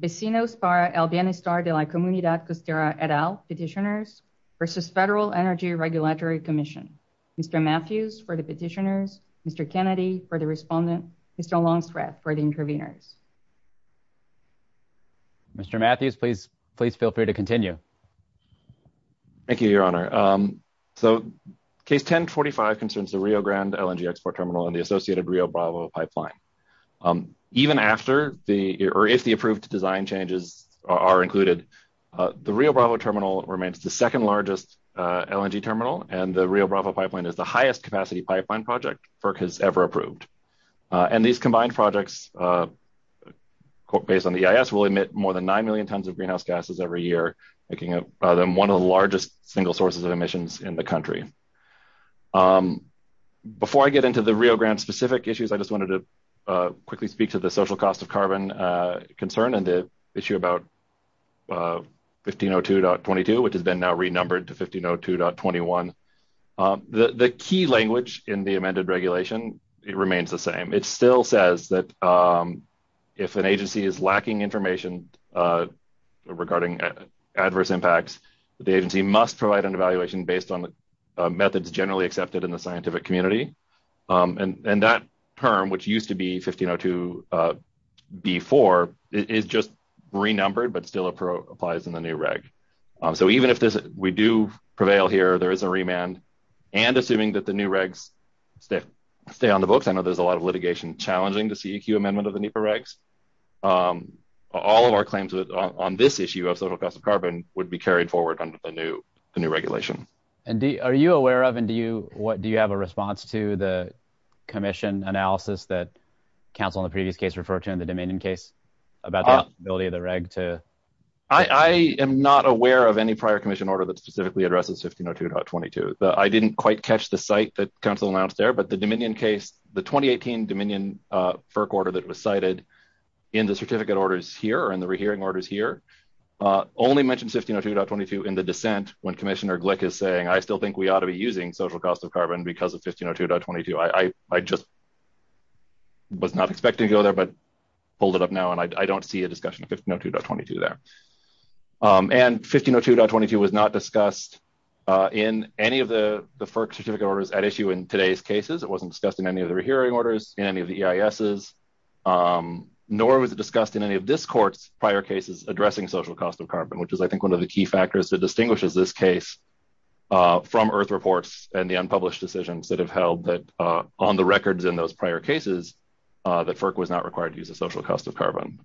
Vecinos para el Bienestar de la Comunidad Costera et al Petitioners versus Federal Energy Regulatory Commission. Mr. Matthews for the Petitioners, Mr. Kennedy for the Respondent, Mr. Longstreth for the Intervenors. Mr. Matthews, please, please feel free to continue. Thank you, Your Honor. So case 1045 concerns the Rio Grande LNG export terminal and the associated Rio Bravo pipeline. Even after the, or if the approved design changes are included, the Rio Bravo terminal remains the second largest LNG terminal and the Rio Bravo pipeline is the highest capacity pipeline project FERC has ever approved. And these combined projects based on the EIS will emit more than 9 million tons of greenhouse gases every year, making it one of the largest single sources of emissions in the country. Before I get into the Rio Grande specific issues, I just wanted to quickly speak to the social cost of carbon concern and the issue about 1502.22, which has been now renumbered to 1502.21. The key language in the amended regulation, it remains the same. It still says that if an agency is lacking information regarding adverse impacts, the agency must provide an evaluation based on methods generally accepted in the scientific community. And that term, which used to be 1502.24 is just renumbered, but still applies in the new reg. So even if we do prevail here, there is a remand and assuming that the new regs stay on the books, I know there's a lot of litigation challenging the CEQ amendment of the NEPA regs. All of our claims on this carbon would be carried forward under the new regulation. And are you aware of, and do you have a response to the commission analysis that council in the previous case referred to in the Dominion case about the eligibility of the reg to... I am not aware of any prior commission order that specifically addresses 1502.22. I didn't quite catch the site that council announced there, but the Dominion case, the 2018 Dominion FERC order that was cited in the certificate orders here and the rehearing orders here, only mentioned 1502.22 in the dissent when Commissioner Glick is saying, I still think we ought to be using social cost of carbon because of 1502.22. I just was not expecting to go there, but pulled it up now. And I don't see a discussion of 1502.22 there. And 1502.22 was not discussed in any of the FERC certificate orders at issue in today's cases. It wasn't discussed in any of the rehearing orders in any of the EISs, nor was it discussed in any of this court's prior cases addressing social cost of carbon, which is I think one of the key factors that distinguishes this case from earth reports and the unpublished decisions that have held that on the records in those prior cases, that FERC was not required to use a social cost of carbon.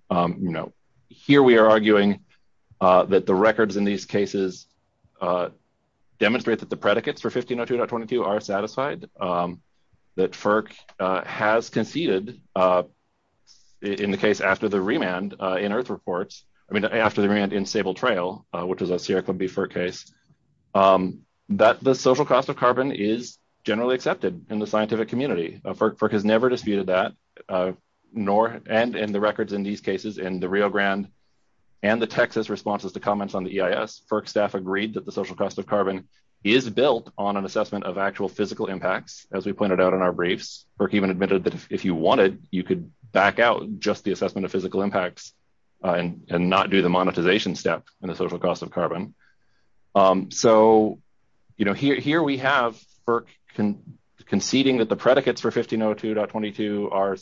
Here we are arguing that the records in these cases demonstrate that the predicates for 1502.22 are satisfied, that FERC has conceded in the case after the remand in earth reports, I mean, after the remand in Sable Trail, which is a Sierra Clubbee FERC case, that the social cost of carbon is generally accepted in the scientific community. FERC has never disputed that, and in the records in these the social cost of carbon is built on an assessment of actual physical impacts, as we pointed out in our briefs. FERC even admitted that if you wanted, you could back out just the assessment of physical impacts and not do the monetization step in the social cost of carbon. So, you know, here we have FERC conceding that the predicates for 1502.22 are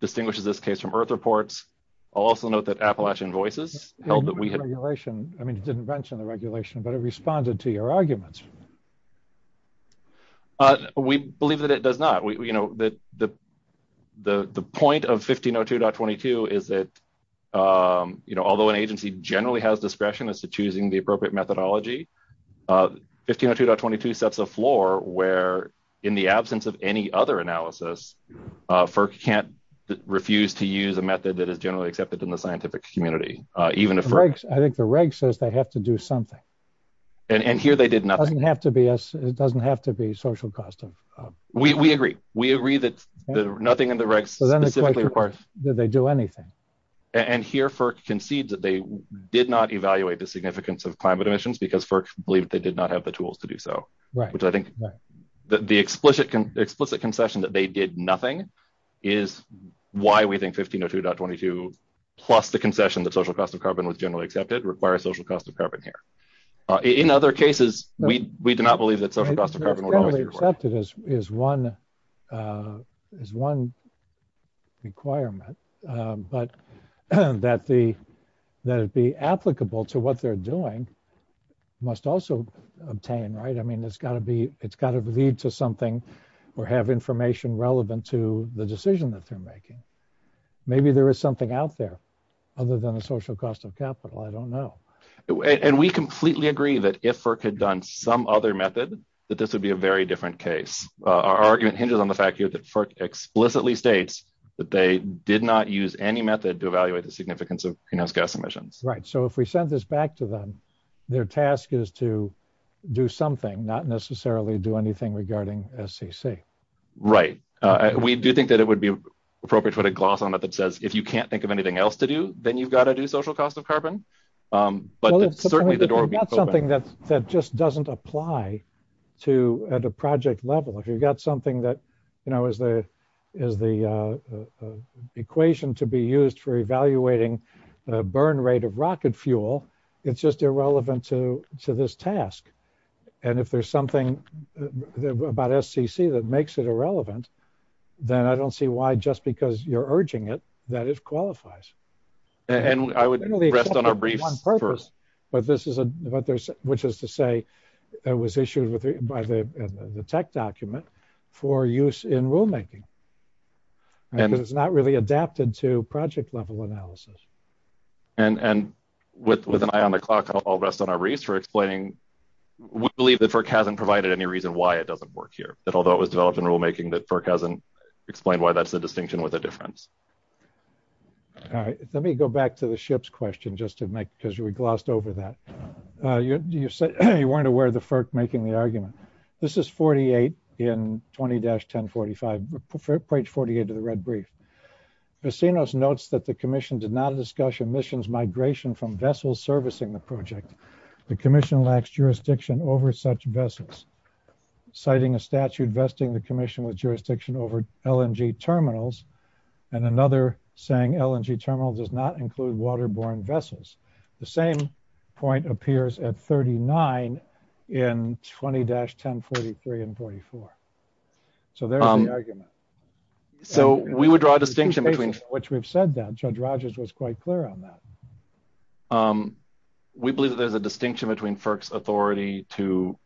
distinguished in this case from earth reports. I'll also note that Appalachian Voices held that we had... I mean, it didn't mention the regulation, but it responded to your arguments. We believe that it does not. You know, the point of 1502.22 is that, you know, although an agency generally has discretion as to choosing the appropriate methodology, 1502.22 sets a floor where, in the absence of any other analysis, FERC can't refuse to use a method that is generally accepted in the scientific community, even if... I think the reg says they have to do something. And here they did nothing. It doesn't have to be social cost of... We agree. We agree that nothing in the reg specifically requires... Did they do anything? And here FERC concedes that they did not evaluate the significance of climate emissions because FERC believed they did not have the tools to do so. Which I think the explicit concession that they did nothing is why we think 1502.22, plus the concession that social cost of carbon was generally accepted, require a social cost of carbon here. In other cases, we do not believe that social cost of carbon would always be required. Generally accepted is one requirement, but that it be applicable to what they're doing must also obtain, right? I mean, it's got to lead to something or have information relevant to the decision that they're making. Maybe there is something out there other than a social cost of capital. I don't know. And we completely agree that if FERC had done some other method, that this would be a very different case. Our argument hinges on the fact here that FERC explicitly states that they did not use any method to evaluate the significance of greenhouse gas emissions. So if we send this back to them, their task is to do something, not necessarily do anything regarding SCC. Right. We do think that it would be appropriate to put a gloss on it that says, if you can't think of anything else to do, then you've got to do social cost of carbon. But certainly the door would be open. But it's not something that just doesn't apply to at a project level. If you've got something that is the equation to be used for evaluating the burn rate of rocket fuel, it's just irrelevant to this task. And if there's something about SCC that makes it irrelevant, then I don't see why, just because you're urging it, that it qualifies. And I would rest on our briefs. But this is what there's, which is to say, it was issued by the tech document for use in rulemaking. And it's not really adapted to project level analysis. And with an eye on the clock, I'll rest on our briefs for explaining, we believe that FERC hasn't provided any reason why it doesn't work here. That although it was developed in rulemaking, that FERC hasn't explained why that's the distinction with a difference. All right. Let me go back to the ships question just to make, because we glossed over that. You weren't aware of the FERC making the argument. This is 48 in 20-1045, page 48 of the red brief. Vicinos notes that the commission did not discuss emissions migration from vessels servicing the project. The commission lacks jurisdiction over such vessels, citing a statute vesting the commission with jurisdiction over LNG terminals. And another saying LNG terminal does not include waterborne vessels. The same point appears at 39 in 20-1043 and 44. So there's the argument. So we would draw a distinction between- Which we've said that, Judge Rogers was quite clear on that. We believe that there's a distinction between FERC's authority to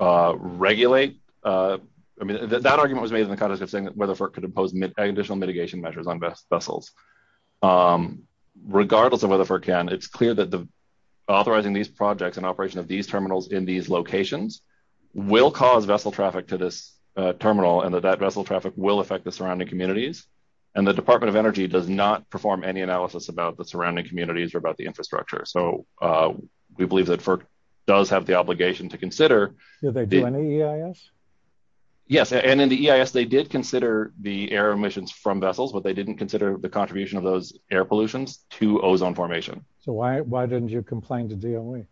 regulate. I mean, that argument was made in the context of saying that whether FERC could impose additional mitigation measures on vessels, regardless of whether FERC can, it's clear that the authorizing these projects and operation of these terminals in these locations will cause vessel traffic to this terminal and that that vessel traffic will affect the surrounding communities. And the Department of Energy does not perform any analysis about the surrounding communities or about the infrastructure. So we believe that FERC does have the obligation to consider- Did they do any EIS? Yes. And in the EIS, they did consider the air emissions from vessels, but they didn't consider the contribution of those air pollutions to ozone formation. So why didn't you complain to DOE?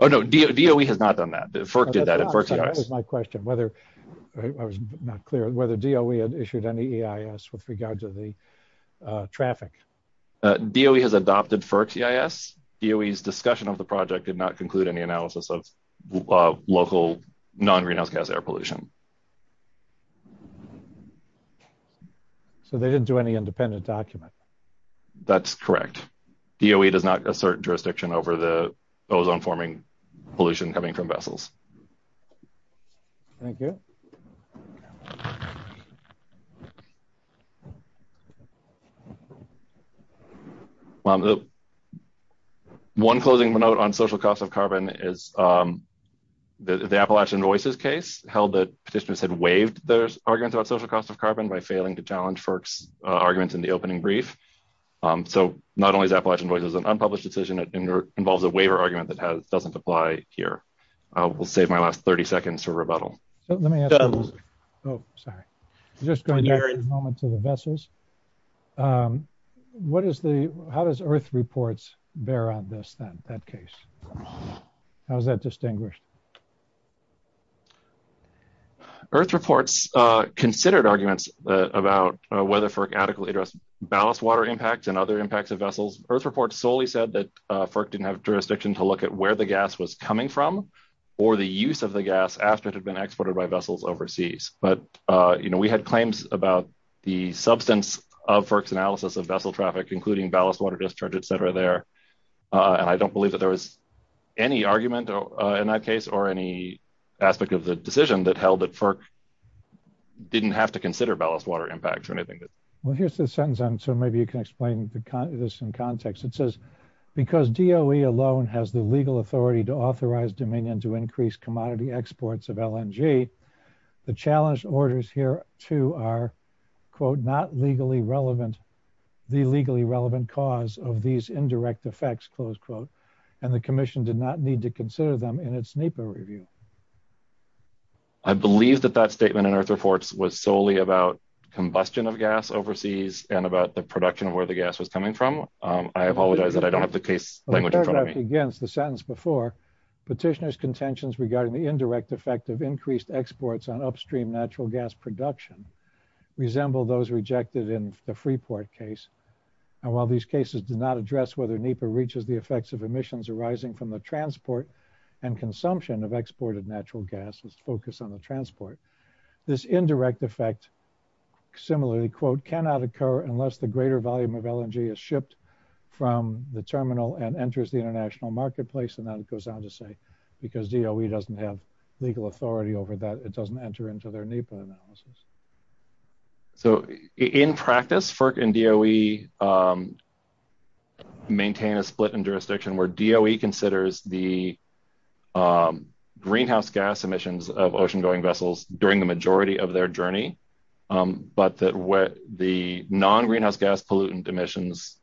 Oh, no. DOE has not done that. FERC did that. That's my question. I was not clear whether DOE had issued any EIS with regard to the traffic. DOE has adopted FERC's EIS. DOE's discussion of the project did not conclude any analysis of local non-greenhouse gas air pollution. So they didn't do any independent document? That's correct. DOE does not assert jurisdiction over the ozone-forming pollution coming from vessels. Thank you. One closing note on social cost of carbon is the Appalachian Voices case held that petitioners had waived their arguments about social cost of carbon by failing to challenge FERC's arguments in the opening brief. So not only is Appalachian Voices an unpublished decision, it involves a waiver argument that doesn't apply here. We'll save my last 30 seconds for rebuttal. Let me ask a question. Oh, sorry. Just going back for a moment to the vessels. How does EARTH reports bear on that case? How is that distinguished? EARTH reports considered arguments about whether FERC adequately addressed ballast water impacts and other impacts of vessels. EARTH reports solely said that FERC didn't have jurisdiction to look at where the gas was coming from or the use of the gas after it had been exported by vessels overseas. But we had claims about the substance of FERC's analysis of vessel traffic, including ballast water discharge, et cetera, there. And I don't believe that there was any argument in that case or any aspect of the decision that held that FERC didn't have to consider ballast water impacts or anything. Well, here's the sentence. So maybe you can explain this in context. It says, because DOE alone has the legal authority to authorize Dominion to increase commodity exports of LNG, the challenge orders here too are, quote, not legally relevant, the legally relevant cause of these indirect effects, close quote, and the commission did not need to consider them in its NEPA review. I believe that that statement in EARTH reports was solely about combustion of gas overseas and about the production of where the gas was coming from. I apologize that I don't have the case language in front of me. Again, it's the sentence before, petitioner's contentions regarding the indirect effect of increased exports on upstream natural gas production resemble those rejected in the Freeport case. And while these cases did not address whether NEPA reaches the effects of emissions arising from the transport and consumption of exported natural gas was focused on the transport, this indirect effect similarly, quote, cannot occur unless the greater volume of LNG is shipped from the terminal and enters the international marketplace. And that goes on to say, because DOE doesn't have legal authority over that, it doesn't enter into their NEPA analysis. So in practice, FERC and DOE maintain a split in jurisdiction where DOE considers the greenhouse gas emissions of ocean going vessels during the majority of their journey. But that what the non-greenhouse gas pollutant emissions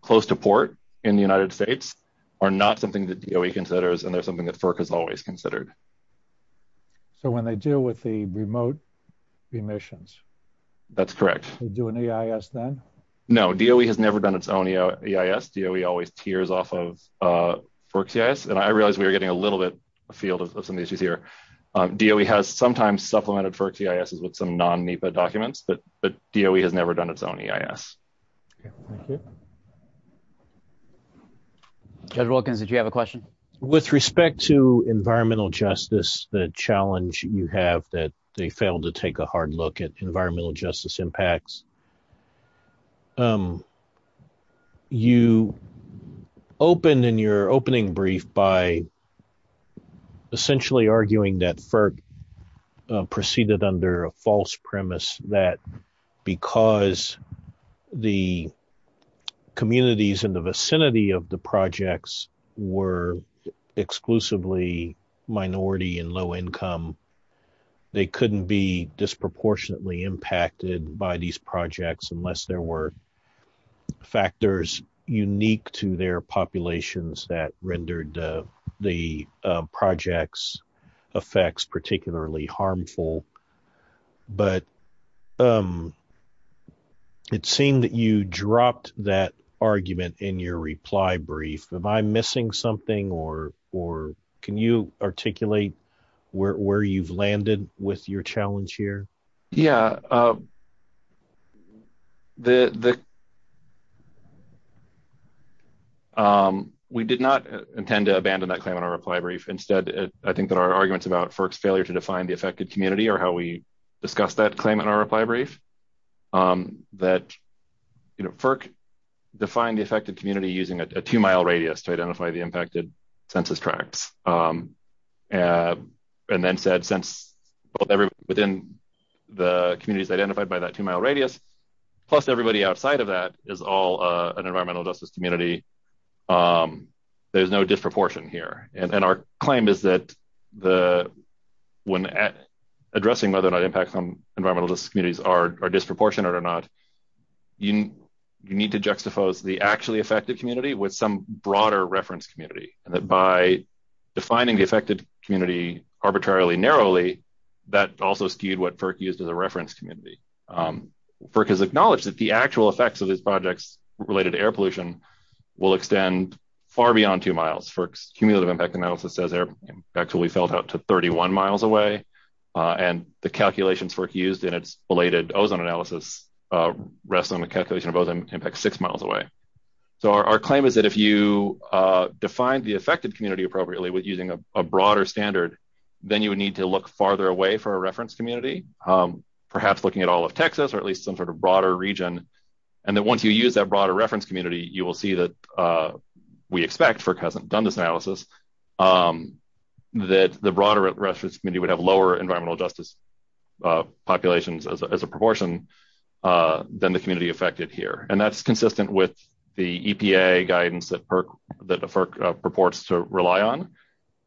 close to port in the United States are not something that DOE considers. And there's something that FERC has always considered. So when they deal with the remote emissions. That's correct. They do an EIS then? No, DOE has never done its own EIS. DOE always tears off of FERC's EIS. And I realize we were getting a little bit afield of some issues here. DOE has sometimes supplemented FERC's EIS with some non-NEPA documents, but DOE has never done its own EIS. Judge Wilkins, did you have a question? With respect to environmental justice, the challenge you have that they failed to take a hard look at environmental justice impacts. You opened in your opening brief by essentially arguing that FERC proceeded under a false premise that because the communities in the vicinity of the projects were exclusively minority and low income, they couldn't be disproportionately impacted by these projects unless there were factors unique to their populations that rendered the project's effects particularly harmful. But it seemed that you dropped that argument in your reply brief. Am I missing something? Can you articulate where you've landed with your challenge here? Yeah. We did not intend to abandon that claim in our reply brief. Instead, I think that our arguments about FERC's failure to define the affected community are how we discussed that claim in our reply brief, that FERC defined the affected community using a two-mile radius to the communities identified by that two-mile radius, plus everybody outside of that is all an environmental justice community. There's no disproportion here. And our claim is that when addressing whether or not impacts on environmental justice communities are disproportionate or not, you need to juxtapose the actually affected community with some broader reference community. And that by defining the affected community arbitrarily narrowly, that also skewed what FERC used as a reference community. FERC has acknowledged that the actual effects of these projects related to air pollution will extend far beyond two miles. FERC's cumulative impact analysis says they're actually felt up to 31 miles away. And the calculations FERC used in its belated ozone analysis rests on a calculation of both impacts six miles away. So our claim is that if you define the affected community appropriately with using a broader standard, then you would need to look farther away for a reference community, perhaps looking at all of Texas or at least some sort of broader region. And that once you use that broader reference community, you will see that we expect, FERC hasn't done this analysis, that the broader reference community would have lower environmental justice populations as a proportion than the community affected here. And that's consistent with the EPA guidance that FERC purports to rely on,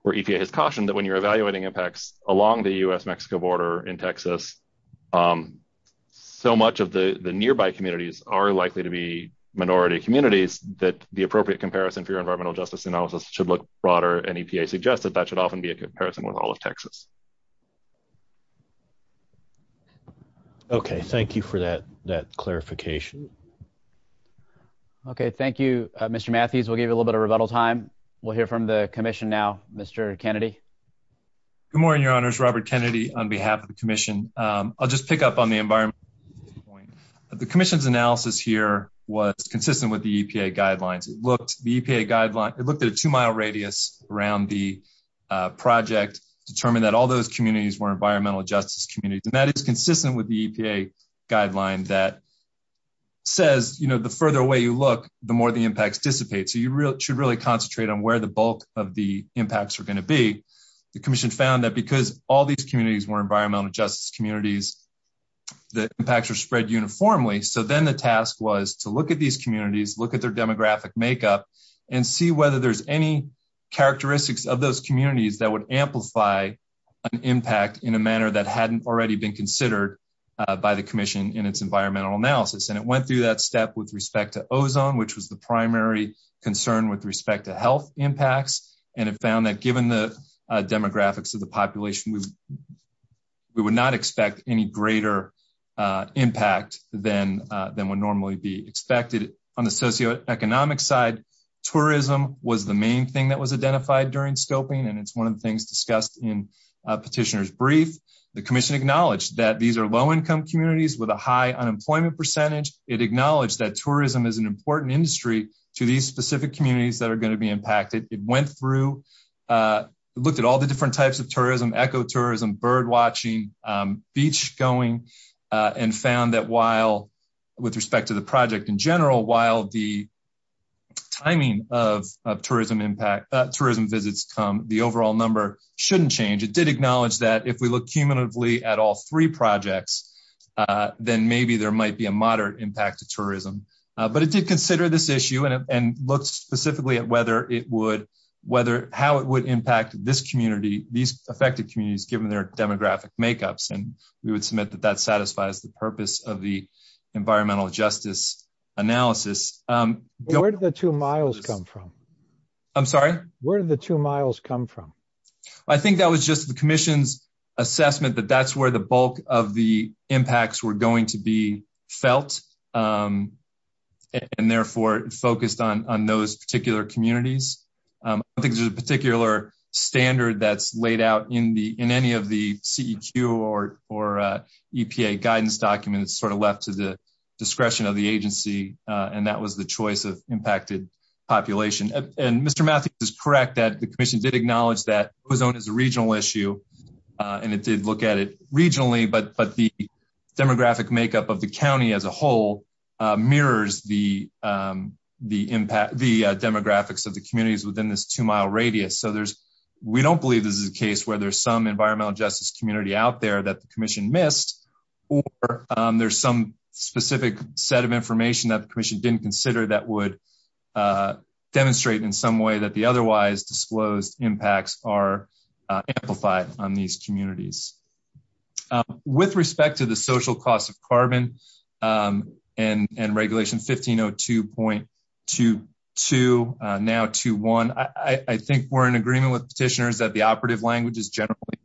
where EPA has cautioned that when you're evaluating impacts along the U.S.-Mexico border in Texas, so much of the nearby communities are likely to be minority communities that the appropriate comparison for your environmental justice analysis should look broader. And EPA suggests that that should often be a comparison with all of Texas. Okay. Thank you for that clarification. Okay. Thank you, Mr. Matthews. We'll give you a little bit of rebuttal time. We'll hear from the commission now, Mr. Kennedy. Good morning, Your Honors. Robert Kennedy on behalf of the commission. I'll just pick up on the environment. The commission's analysis here was consistent with the EPA guidelines. It looked, the EPA guideline, it looked at a two-mile radius around the project, determined that all those communities were environmental justice communities. And that is consistent with the EPA guideline that says, you know, the further away you look, the more the impacts dissipate. So you should really concentrate on where the bulk of the impacts are going to be. The commission found that because all these communities were environmental justice communities, the impacts were spread uniformly. So then the task was to look at these communities, look at their demographic makeup, and see whether there's any characteristics of those communities that would amplify an impact in a manner that hadn't already been considered by the commission in its environmental analysis. And it went through that step with respect to ozone, which was the primary concern with respect to health impacts. And it found that given the demographics of the population, we would not expect any greater impact than would normally be expected. On the socioeconomic side, tourism was the main thing that was identified during scoping, and it's one of the things discussed in petitioner's brief. The commission acknowledged that these are low-income communities with a high unemployment percentage. It acknowledged that tourism is an important industry to these specific communities that are going to be impacted. It went through, looked at all the different types of tourism, ecotourism, bird watching, beach going, and found that while with respect to the project in general, while the timing of tourism visits come, the overall number shouldn't change. It did acknowledge that if we look cumulatively at all three projects, then maybe there might be a moderate impact to tourism. But it did consider this issue and looked specifically at whether it would, how it would impact this community, these affected communities, given their demographic makeups. And we would submit that that satisfies the purpose of the environmental justice analysis. Where did the two miles come from? I'm sorry? Where did the two miles come from? I think that was just the commission's assessment, that that's where the bulk of the impact was felt, and therefore focused on those particular communities. I don't think there's a particular standard that's laid out in any of the CEQ or EPA guidance documents that's sort of left to the discretion of the agency, and that was the choice of impacted population. And Mr. Matthews is correct that the commission did acknowledge that Pozona is a regional issue, and it did look at it as a whole, mirrors the demographics of the communities within this two-mile radius. So there's, we don't believe this is a case where there's some environmental justice community out there that the commission missed, or there's some specific set of information that the commission didn't consider that would demonstrate in some way that the otherwise disclosed impacts are on these communities. With respect to the social cost of carbon and regulation 1502.22, now 21, I think we're in agreement with petitioners that the operative language is generally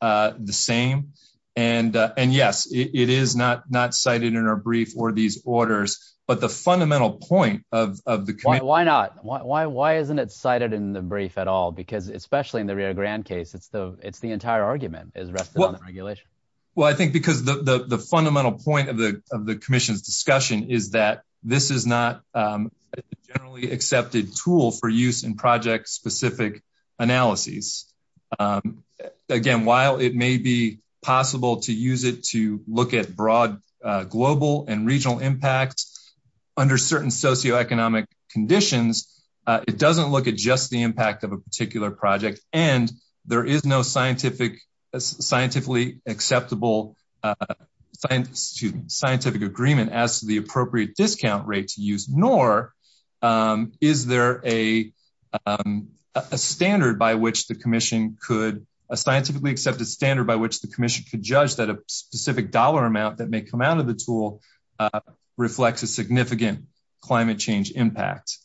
the same. And yes, it is not cited in our brief or these orders, but the fundamental point of the committee... Why not? Why isn't it cited in the brief at all? Because especially in the Rio Grande case, it's the entire argument is rested on the regulation. Well, I think because the fundamental point of the commission's discussion is that this is not a generally accepted tool for use in project specific analyses. Again, while it may be possible to use it to look at broad global and regional impacts under certain socioeconomic conditions, it doesn't look at just the impact of a particular project. And there is no scientifically acceptable scientific agreement as to the appropriate discount rate to use, nor is there a scientifically accepted standard by which the commission could judge that a specific dollar amount that may come out of the tool reflects a significant climate change impact.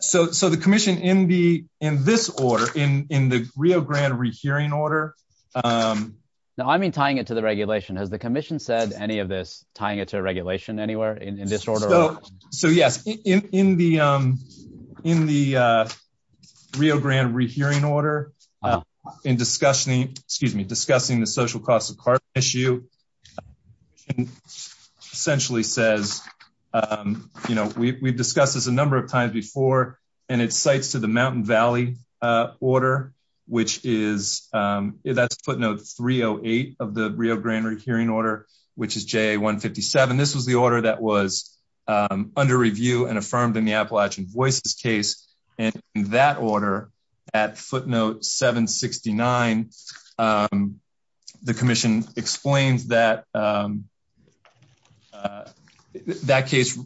So the commission in this order, in the Rio Grande rehearing order... Now, I mean, tying it to the regulation. Has the commission said any of this, tying it to a regulation anywhere in this order? So yes, in the Rio Grande rehearing order, in discussing the social cost of carbon issue, the commission essentially says, you know, we've discussed this a number of times before, and it cites to the Mountain Valley order, which is, that's footnote 308 of the Rio Grande hearing order, which is JA 157. This was the order that was under review and affirmed in the Appalachian Voices case. And in that order, at footnote 769, the commission explains that that case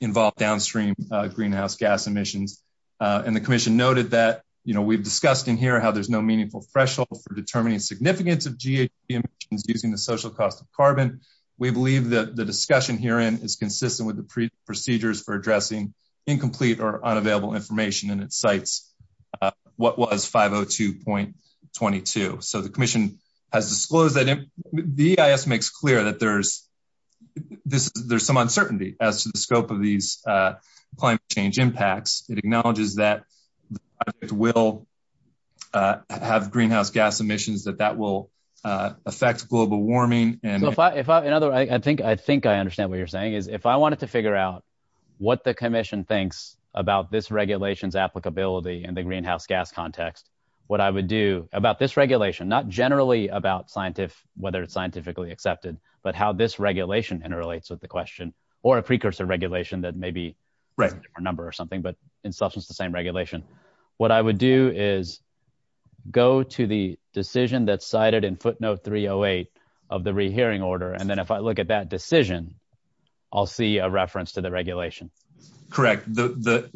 involved downstream greenhouse gas emissions. And the commission noted that, you know, we've discussed in here how there's no meaningful threshold for determining significance of GHG emissions using the social cost of carbon. We believe that the discussion herein is consistent with the procedures for addressing incomplete or unavailable information, and it cites what was 502.22. So the commission has disclosed that... The EIS makes clear that there's some uncertainty as to the scope of these climate change impacts. It acknowledges that it will have greenhouse gas emissions, that that will affect global warming. In other words, I think I understand what you're saying, is if I wanted to figure out what the commission thinks about this regulation's applicability in the greenhouse gas context, what I would do about this regulation, not generally about whether it's scientifically accepted, but how this regulation interrelates with the question, or a precursor regulation that may be a different number or something, but in substance the same regulation, what I would do is go to the decision that's cited in footnote 308 of the rehearing order, and then if I look at that decision, I'll see a reference to the regulation. Correct. The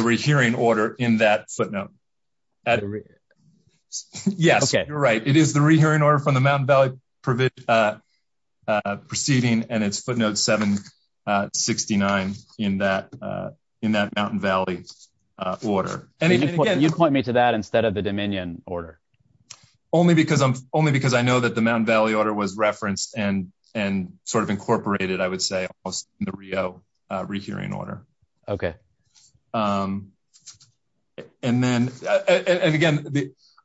rehearing order in that footnote. Yes, you're right. It is the rehearing order from the Mountain Valley proceeding, and it's footnote 769 in that Mountain Valley order. You'd point me to that instead of the Dominion order. Only because I know that the Mountain Valley order was referenced and incorporated, I would say, in the Rio rehearing order. Okay. Again,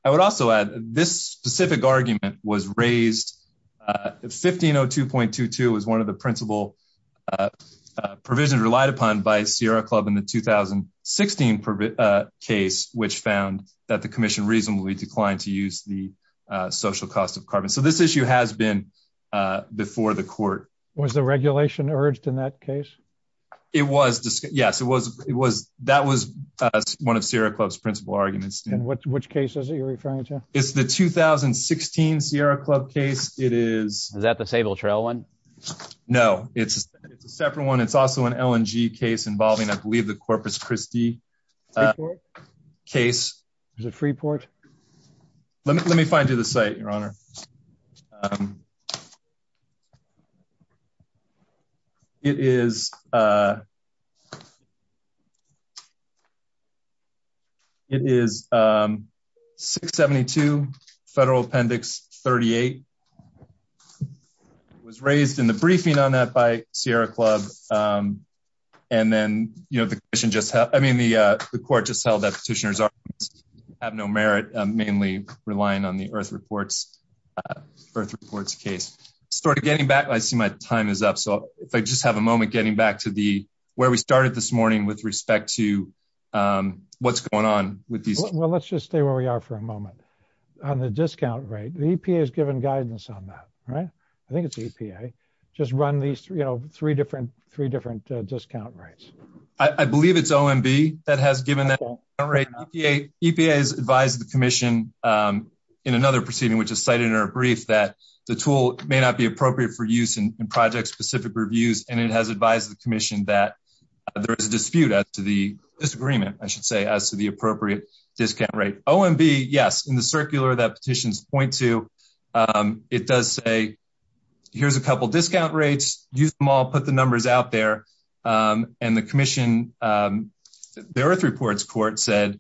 I would also add this specific argument was raised. 1502.22 was one of the principal provisions relied upon by Sierra Club in the 2016 case, which found that the commission reasonably declined to use the social cost of carbon. So, this issue has been before the court. Was the regulation urged in that case? It was. Yes, that was one of Sierra Club's principal arguments. Which case is it you're referring to? It's the 2016 Sierra Club case. Is that the Sable Trail one? No, it's a separate one. It's also an LNG case involving, I believe, the Corpus Christi case. Is it Freeport? Let me find you the site, Your Honor. It is 672, Federal Appendix 38. It was raised in the briefing on that by Sierra Club. And then, the court just held that Petitioner's arguments have no merit, mainly relying on the Earth Reports case. I see my time is up. So, if I just have a moment getting back to where we started this morning with respect to what's going on with these. Well, let's just stay where we are for a moment. On the discount rate, the EPA has given guidance on that, right? I think it's the EPA. Just run these three different discount rates. I believe it's OMB that has given that rate. EPA has advised the commission in another proceeding, which is cited in our brief, that the tool may not be appropriate for use in project-specific reviews. And it has advised the commission that there is a dispute as to the disagreement, I should say, as to the appropriate discount rate. OMB, yes, in the circular that petitions point to, it does say, here's a couple discount rates. Use them all. Put the numbers out there. And the commission, the Earth Reports court said,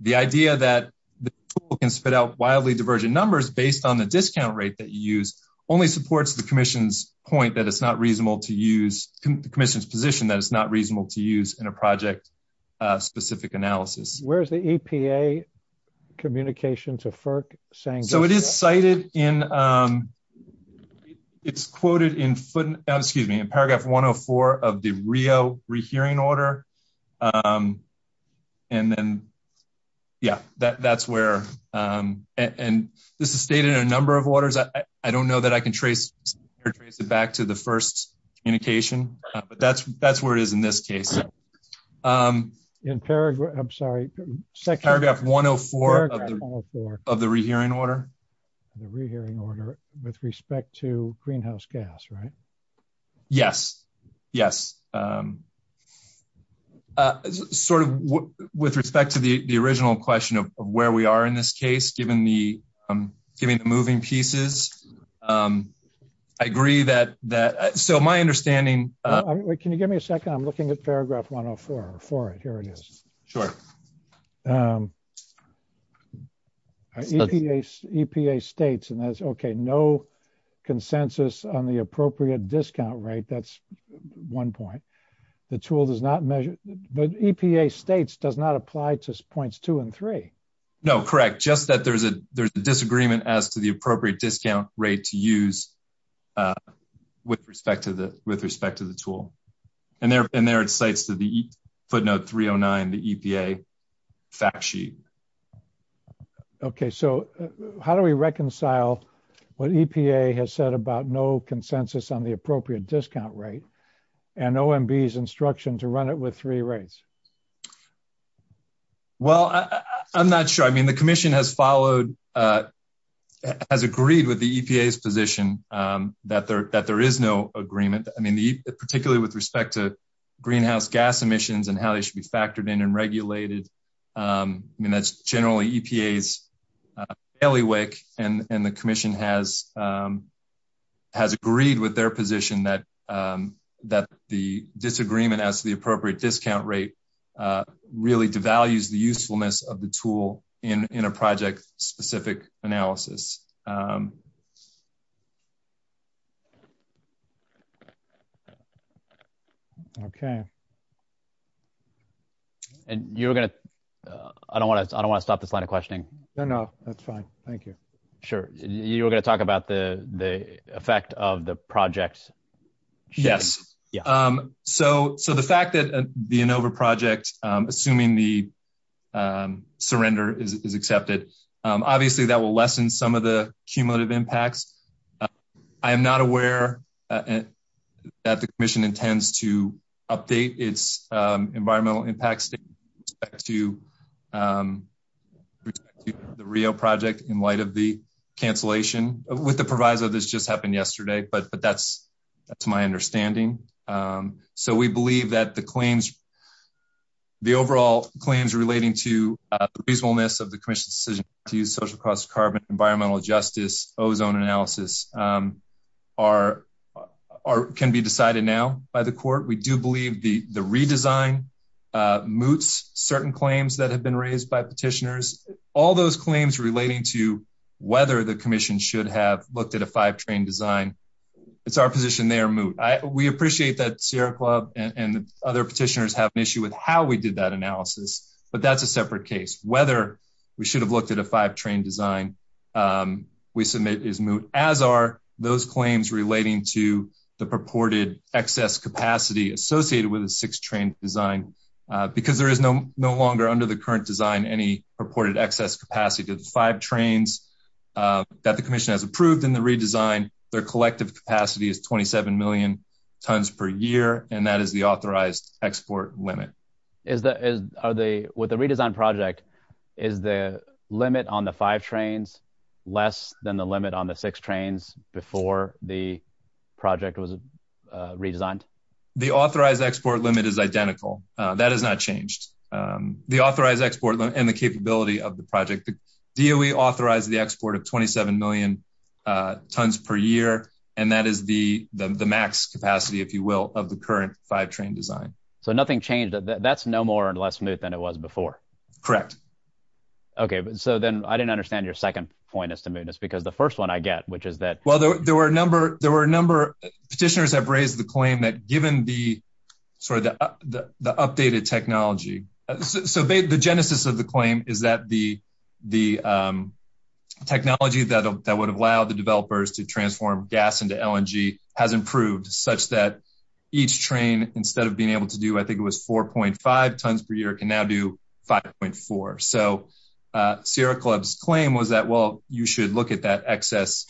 the idea that the tool can spit out wildly divergent numbers based on the discount rate that you use only supports the commission's point that it's not reasonable to use, the commission's position that it's not reasonable to use in a project-specific analysis. Where's the EPA communication to FERC saying this? So, it is cited in, it's quoted in footnote, excuse me, in paragraph 104 of the Rio rehearing order. And then, yeah, that's where, and this is stated in a number of orders. I don't know that I can trace or trace it back to the first indication, but that's where it is in this case. In paragraph, I'm sorry, paragraph 104 of the rehearing order. The rehearing order with respect to greenhouse gas, right? Yes. Yes. Sort of with respect to the original question of where we are in this case, given the, given the moving pieces, I agree that, so my understanding- Can you give me a second? I'm looking at paragraph 104. Here it is. Sure. EPA states, and that's okay, no consensus on the appropriate discount rate. That's one point. The tool does not measure, but EPA states does not apply to points two and three. No, correct. Just that there's a, there's a disagreement as to the appropriate discount rate to use with respect to the, with respect to the tool. And there, and there it cites to the footnote 309, the EPA fact sheet. Okay. So how do we reconcile what EPA has said about no consensus on the appropriate discount rate and OMB's instruction to run it with three rates? Well, I'm not sure. I mean, the commission has followed, has agreed with the EPA's position that there, that there is no agreement. I mean, particularly with respect to greenhouse gas emissions and how they should be factored in and regulated. I mean, that's generally EPA's bailiwick and the commission has, has agreed with their position that that the disagreement as the appropriate discount rate really devalues the usefulness of the tool in, in a project specific analysis. Okay. And you were going to, I don't want to, I don't want to stop this line of questioning. No, no, that's fine. Thank you. Sure. You were going to talk about the, the effect of the project. Yes. So, so the fact that the ANOVA project, assuming the surrender is accepted, obviously that will lessen some of the cumulative impacts. I am not aware that the commission intends to update its environmental impacts to the Rio project in light of the cancellation with the proviso. This just happened yesterday, but, but that's, that's my understanding. So we believe that the claims, the overall claims relating to the reasonableness of the commission's decision to use social costs, carbon, environmental justice, ozone analysis are, are, can be decided now by the We do believe the, the redesign moots, certain claims that have been raised by petitioners, all those claims relating to whether the commission should have looked at a five train design. It's our position. They are moot. We appreciate that Sierra club and other petitioners have an issue with how we did that analysis, but that's a separate case. Whether we should have looked at a five train design we submit is moot as are those claims relating to the purported excess capacity associated with a six train design because there is no longer under the current design, any purported excess capacity to the five trains that the commission has approved in the redesign, their collective capacity is 27 million tons per year. And that is the authorized export limit. Is that, is, are they with the redesign project is the limit on the Redesigned the authorized export limit is identical. That has not changed the authorized export and the capability of the project. The DOE authorized the export of 27 million tons per year. And that is the, the, the max capacity, if you will, of the current five train design. So nothing changed. That's no more and less smooth than it was before. Correct. Okay. So then I didn't understand your second point as to mootness because the first one I get, which is that, well, there were a number, there were a number petitioners have raised the claim that given the sort of the, the, the updated technology. So the genesis of the claim is that the, the technology that would have allowed the developers to transform gas into LNG has improved such that each train, instead of being able to do, I think it was 4.5 tons per year can now do 5.4. So, uh, Sierra clubs claim was that, well, you should look at that excess.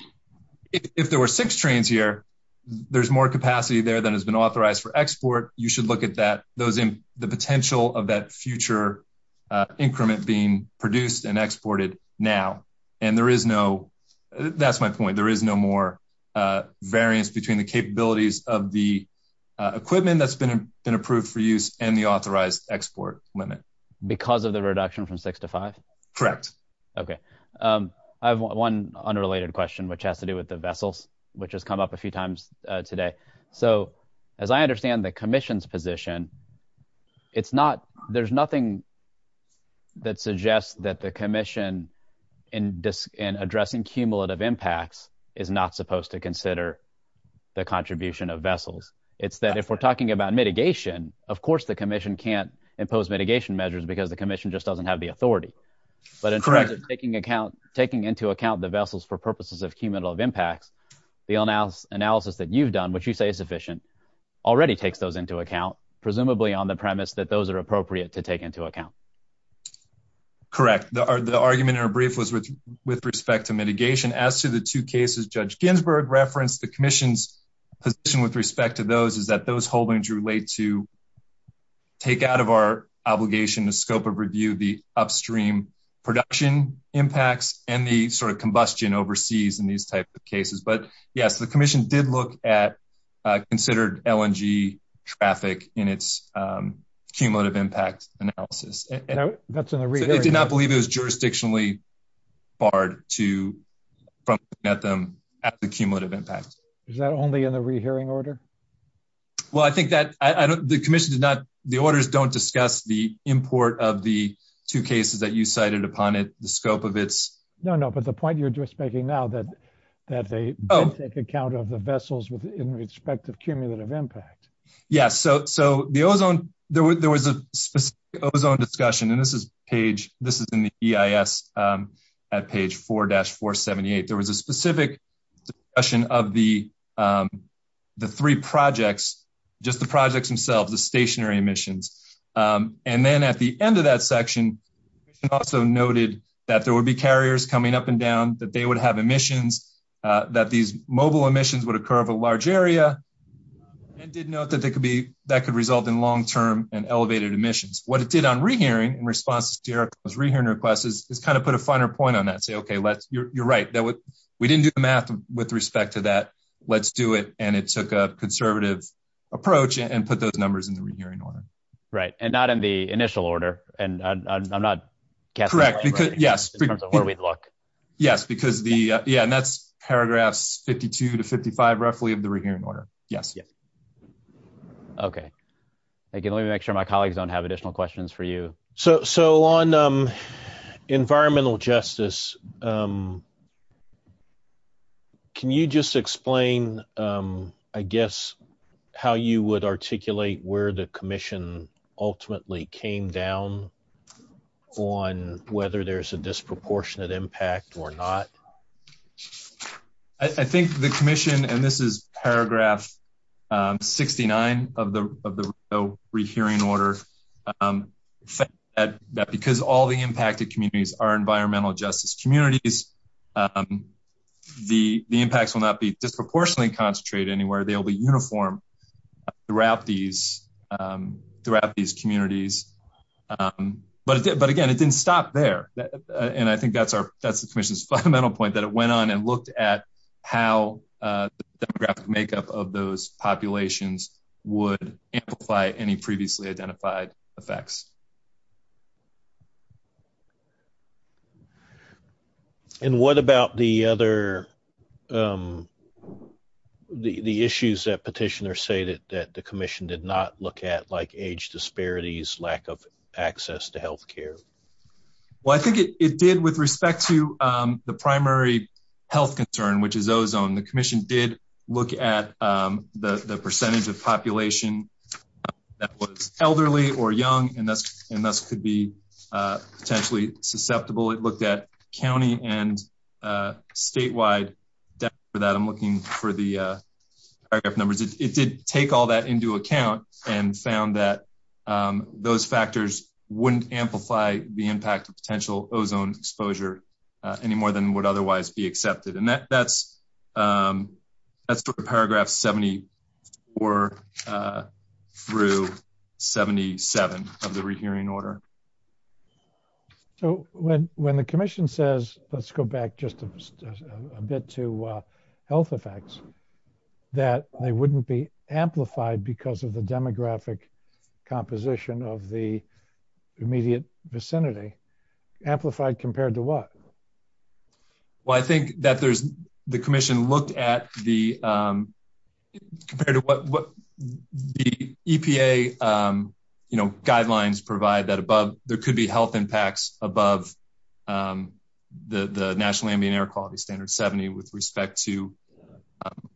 If there were six trains here, there's more capacity there than has been authorized for export. You should look at that. Those in the potential of that future, uh, increment being produced and exported now. And there is no, that's my point. There is no more, uh, variance between the capabilities of the, uh, equipment that's been, been approved for use and the because of the reduction from six to five. Correct. Okay. Um, I have one unrelated question, which has to do with the vessels, which has come up a few times today. So as I understand the commission's position, it's not, there's nothing that suggests that the commission in disc and addressing cumulative impacts is not supposed to consider the contribution of vessels. It's that if we're talking about mitigation, of course, the commission can't impose mitigation measures because the commission just doesn't have the authority, but in terms of taking account, taking into account the vessels for purposes of cumulative impacts, the analysis analysis that you've done, which you say is sufficient already takes those into account, presumably on the premise that those are appropriate to take into account. Correct. The argument or brief was with, with respect to mitigation as to the two cases, judge Ginsburg referenced the commission's position with respect to those is that those holdings relate to take out of our obligation, the scope of review, the upstream production impacts and the sort of combustion overseas in these types of cases. But yes, the commission did look at, uh, considered LNG traffic in its, um, cumulative impact analysis. And I did not believe it was jurisdictionally barred to from net them at the cumulative impact. Is that only in the rehearing order? Well, I think that I don't, the commission did not, the orders don't discuss the import of the two cases that you cited upon it, the scope of it's. No, no. But the point you're just making now that, that they take account of the vessels with in respect of cumulative impact. Yeah. So, so the ozone there, there was a specific ozone discussion and this is page, this is in the EIS, um, at page four dash four 78, there was a specific discussion of the, um, the three projects, just the projects themselves, the stationary emissions. Um, and then at the end of that section, also noted that there would be carriers coming up and down that they would have emissions, uh, that these mobile emissions would occur of a large area and did note that there could be, that could result in long-term and elevated emissions. What it did on rehearing in response to those rehearing requests is kind of put a finer point on that and say, okay, let's, you're right. That would, we didn't do the math with respect to that. Let's do it. And it took a conservative approach and put those numbers in the rehearing order. Right. And not in the initial order. And I'm not correct because yes, in terms of where we'd look. Yes, because the, yeah. And that's paragraphs 52 to 55, roughly of the rehearing order. Yes. Yeah. Okay. Thank you. Let me make sure my colleagues don't have additional questions for you. So, so on, um, environmental justice, um, can you just explain, um, I guess how you would articulate where the commission ultimately came down on whether there's a disproportionate impact or not? I think the commission, and this is paragraph, um, 69 of the, of the rehearing order, um, that because all the impacted communities are environmental justice communities, um, the, the impacts will not be disproportionately concentrated anywhere. They'll be uniform throughout these, um, throughout these communities. Um, but, but again, it didn't stop there. And I think that's our, that's the commission's fundamental point that it went on and looked at how, uh, the demographic makeup of those populations would amplify any previously identified effects. And what about the other, um, the, the issues that petitioners say that, that the commission did not look at like age disparities, lack of access to healthcare? Well, I think it, it did with respect to, um, the primary health concern, which is ozone. The percentage of population that was elderly or young, and that's, and this could be, uh, potentially susceptible. It looked at County and, uh, statewide for that I'm looking for the, uh, paragraph numbers. It did take all that into account and found that, um, those factors wouldn't amplify the impact of potential ozone exposure, uh, any more than would otherwise be or, uh, through 77 of the rehearing order. So when, when the commission says, let's go back just a bit to a health effects that they wouldn't be amplified because of the demographic composition of the immediate vicinity amplified compared to what? Well, I think that there's the commission looked at the, um, compared to what, what the EPA, um, you know, guidelines provide that above there could be health impacts above, um, the, the national ambient air quality standard 70 with respect to, um,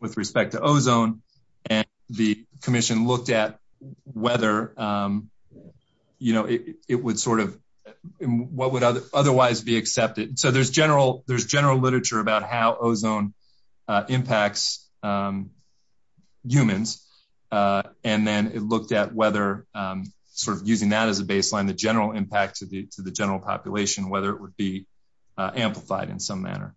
with respect to ozone and the commission looked at whether, um, you know, it would sort of what would otherwise be accepted. So there's general, there's general literature about how ozone, uh, impacts, um, humans. Uh, and then it looked at whether, um, sort of using that as a baseline, the general impact to the, to the general population, whether it would be amplified in some manner.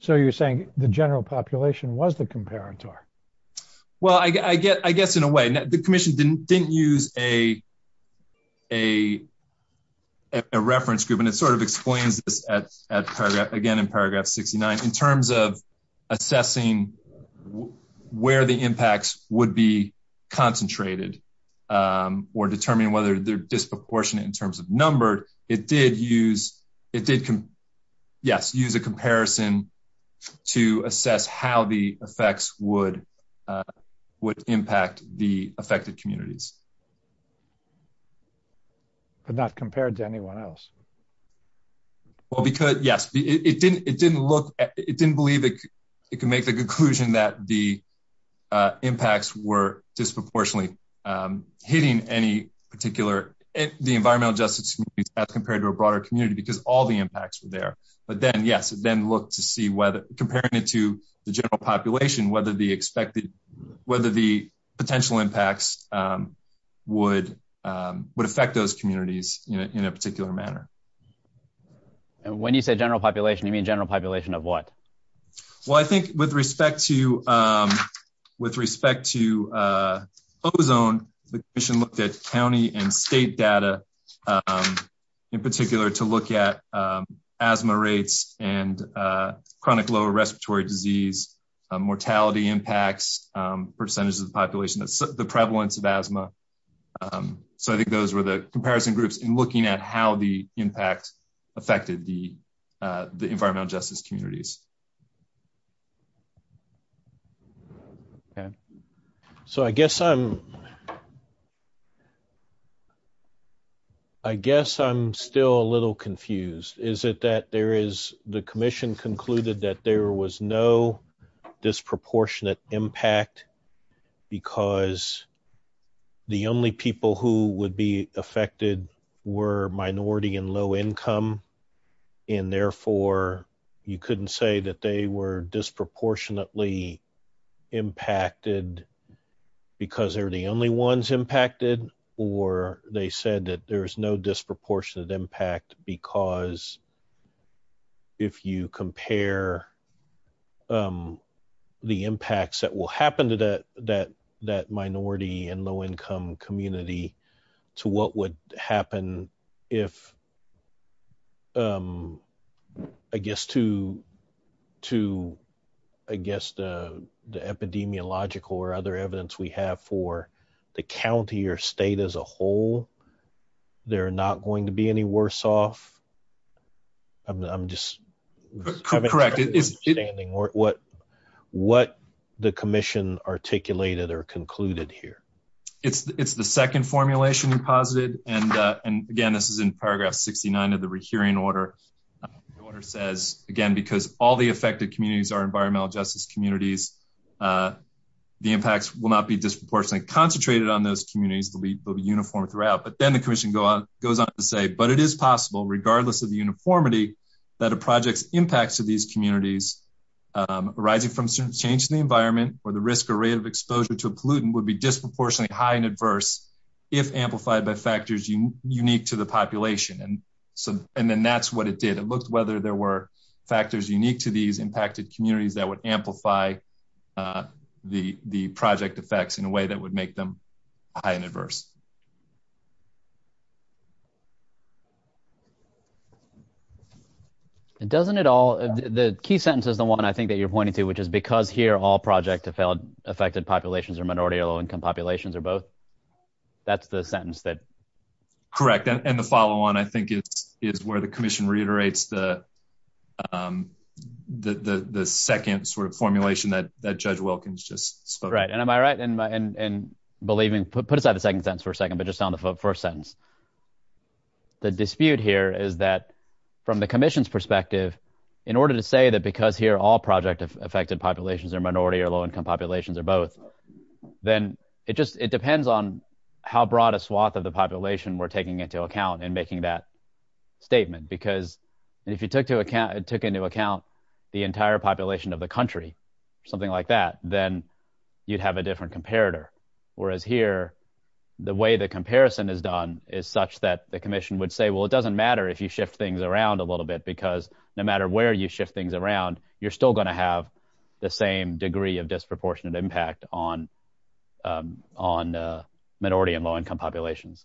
So you're saying the general population was the comparator. Well, I guess, I guess in a way that the commission didn't, didn't use a, a, a reference group, and it sort of explains this at, at paragraph again, in paragraph 69, in terms of assessing where the impacts would be concentrated, um, or determine whether they're disproportionate in terms of numbered. It did use, it did, yes, use a comparison to assess how the effects would, uh, would impact the affected communities, but not compared to anyone else. Well, because yes, it didn't, it didn't look, it didn't believe it could make the conclusion that the, uh, impacts were disproportionately, um, hitting any particular, the environmental justice as compared to a broader community, because all the impacts were there, but then, yes, then look to see whether comparing it to the general population, whether the expected, whether the potential impacts, um, would, um, would affect those communities in a, in a particular manner. And when you say general population, you mean general population of what? Well, I think with respect to, um, with respect to, uh, ozone, the commission looked at county and state data, um, in particular to look at, um, asthma rates and, uh, chronic lower respiratory disease, um, mortality impacts, um, percentages of the population, the prevalence of asthma. Um, so I think those were the comparison groups in looking at how the impact affected the, uh, the environmental justice communities. Okay. So I guess I'm, I guess I'm still a little confused. Is it that there is the commission concluded that there was no disproportionate impact because the only people who would be affected were minority and low income. And therefore you couldn't say that they were disproportionately impacted because they're the only ones impacted, or they said that there was no disproportionate impact because if you compare, um, the impacts that will happen to that, that, that minority and low income community to what would happen if, um, I guess to, to, I guess, uh, the epidemiological or other evidence we have for the county or state as a whole, they're not going to be any worse off. I'm, I'm just correct. It is standing or what, what the commission articulated or concluded here. It's, it's the second formulation you posited. And, uh, and again, this is in paragraph 69 of the rehearing order order says again, because all the affected communities are environmental justice communities. Uh, the impacts will not be disproportionately concentrated on those communities. They'll be, they'll be uniform throughout, but then the commission go on, goes on to say, but it is possible regardless of the uniformity that a project's impacts to these communities, um, arising from certain change in the environment or the risk or rate of exposure to a pollutant would be disproportionately high and adverse if amplified by factors unique to the population. And so, and then that's what it did. It looked whether there were unique to these impacted communities that would amplify, uh, the, the project effects in a way that would make them high and adverse. It doesn't at all. The key sentence is the one I think that you're pointing to, which is because here all project to failed affected populations or minority or low income populations are both. That's the sentence that correct. And the follow on, I think is where the commission reiterates the, um, the, the, the second sort of formulation that, that judge Wilkins just spoke. Right. And am I right in my, in, in believing put aside the second sentence for a second, but just on the first sentence, the dispute here is that from the commission's perspective, in order to say that, because here all project affected populations are minority or low income populations are both, then it just, it depends on how broad a swath of population we're taking into account and making that statement. Because if you took to account, it took into account the entire population of the country, something like that, then you'd have a different comparator. Whereas here, the way the comparison is done is such that the commission would say, well, it doesn't matter if you shift things around a little bit, because no matter where you shift things around, you're still going to have the same degree of disproportionate impact on, um, on, uh, minority and low income populations.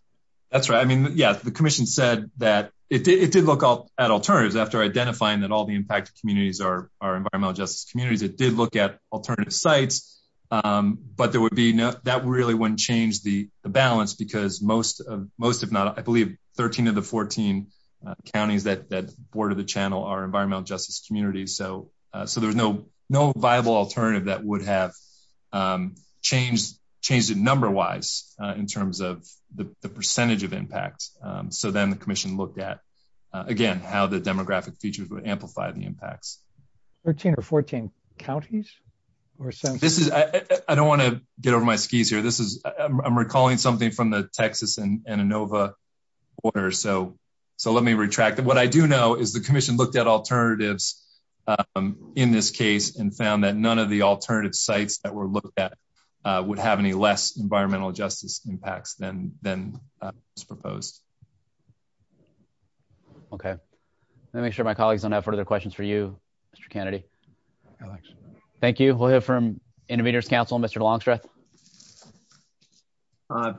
That's right. I mean, yeah, the commission said that it did look at alternatives after identifying that all the impacted communities are, are environmental justice communities. It did look at alternative sites. Um, but there would be no, that really wouldn't change the balance because most of, most, if not, I believe 13 of the 14, uh, counties that, that border the channel are environmental justice communities. So, uh, so there was no, no viable alternative that would have, um, changed, changed it number wise, uh, in terms of the percentage of impacts. Um, so then the commission looked at, uh, again, how the demographic features would amplify the impacts. 13 or 14 counties or so? This is, I don't want to get over my skis here. This is, I'm recalling something from the Texas and Innova border. So, so let me retract it. What I do know is the commission looked at alternatives, um, in this case and found that none of the alternative sites that were looked at, uh, would have any less environmental justice impacts than, than, uh, was proposed. Okay. Let me make sure my colleagues don't have further questions for you, Mr. Kennedy. Thank you. We'll hear from intervenors council, Mr. Longstreth.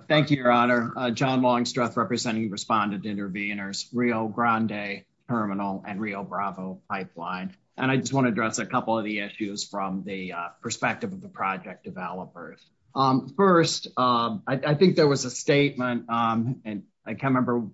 Thank you, your honor, uh, John Longstreth representing respondent intervenors, Rio Grande terminal and Rio Bravo pipeline. And I just want to address a couple of the issues from the, perspective of the project developers. Um, first, um, I, I think there was a statement, um, and I can't remember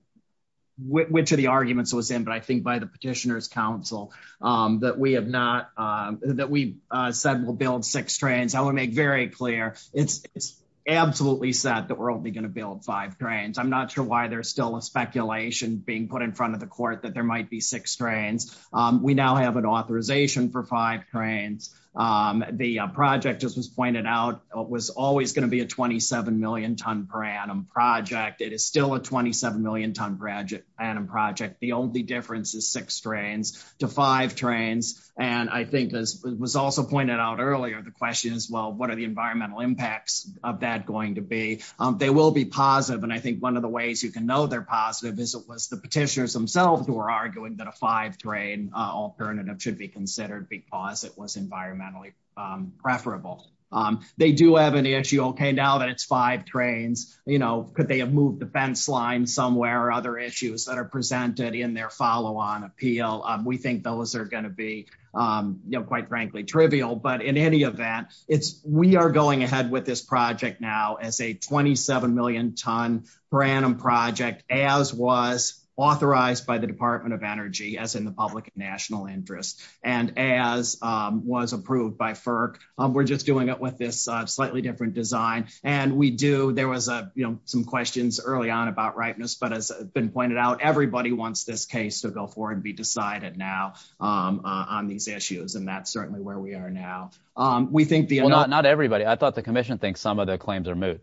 which of the arguments was in, but I think by the petitioners council, um, that we have not, um, that we, uh, said we'll build six trains. I want to make very clear. It's, it's absolutely set that we're only going to build five trains. I'm not sure why there's still a speculation being put in front of the court that there might be six trains. Um, we now have an authorization for five trains. Um, the project just was pointed out was always going to be a 27 million ton per annum project. It is still a 27 million ton project and a project. The only difference is six strains to five trains. And I think as was also pointed out earlier, the question is, well, what are the environmental impacts of that going to be? Um, they will be positive. And I think one of the ways you can know they're positive is it was the petitioners themselves who are arguing that a five train, uh, alternative should be considered because it was environmentally, um, preferable. Um, they do have an issue. Okay. Now that it's five trains, you know, could they have moved the fence line somewhere or other issues that are presented in their follow on appeal? Um, we think those are going to be, um, you know, quite frankly, trivial, but in any event, it's, we are going ahead with this project now as a 27 million ton per annum project, as was authorized by the department of energy as in the public national interest. And as, um, was approved by FERC, um, we're just doing it with this slightly different design and we do, there was a, you know, some questions early on about rightness, but as been pointed out, everybody wants this case to go forward and be decided now, um, uh, on these issues. And that's certainly where we are now. Um, we think the, well, not, not everybody. I thought the commission thinks some of the claims are moot.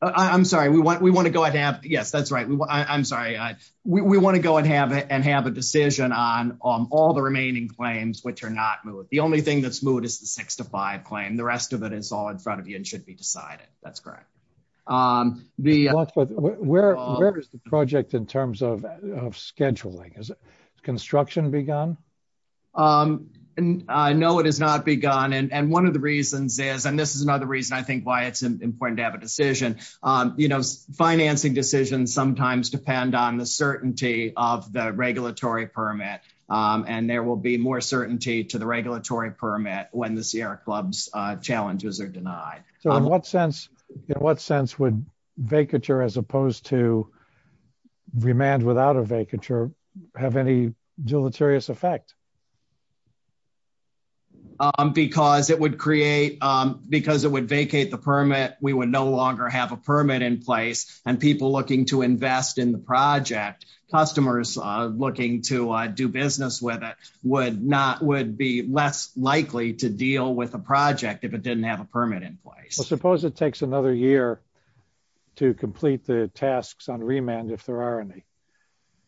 I'm sorry. We want, we want to go ahead and have, yes, that's right. I'm sorry. I, we want to go and have it and have a decision on all the remaining claims, which are not moot. The only thing that's moot is the six to five claim. The rest of it is all in front of you and should be decided. That's correct. Um, the, where, where is the project in terms of scheduling? Is it construction begun? Um, and I know it has not begun. And one of the reasons is, and this is the reason I think why it's important to have a decision, um, you know, financing decisions sometimes depend on the certainty of the regulatory permit. Um, and there will be more certainty to the regulatory permit when the Sierra clubs, uh, challenges are denied. So in what sense, in what sense would vacature as opposed to remand without a vacature have any deleterious effect? Um, because it would create, um, because it would vacate the permit. We would no longer have a permit in place and people looking to invest in the project customers, uh, looking to do business with it would not, would be less likely to deal with a project if it didn't have a permit in place. I suppose it takes another year to complete the tasks on remand if there is a vacature.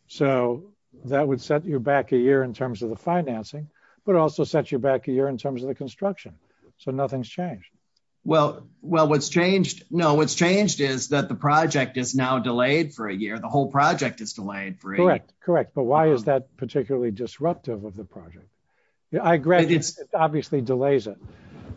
So that would set you back a year in terms of the financing, but also set you back a year in terms of the construction. So nothing's changed. Well, well, what's changed? No, what's changed is that the project is now delayed for a year. The whole project is delayed. Correct. Correct. But why is that particularly disruptive of the project? Yeah. I graduated obviously delays it.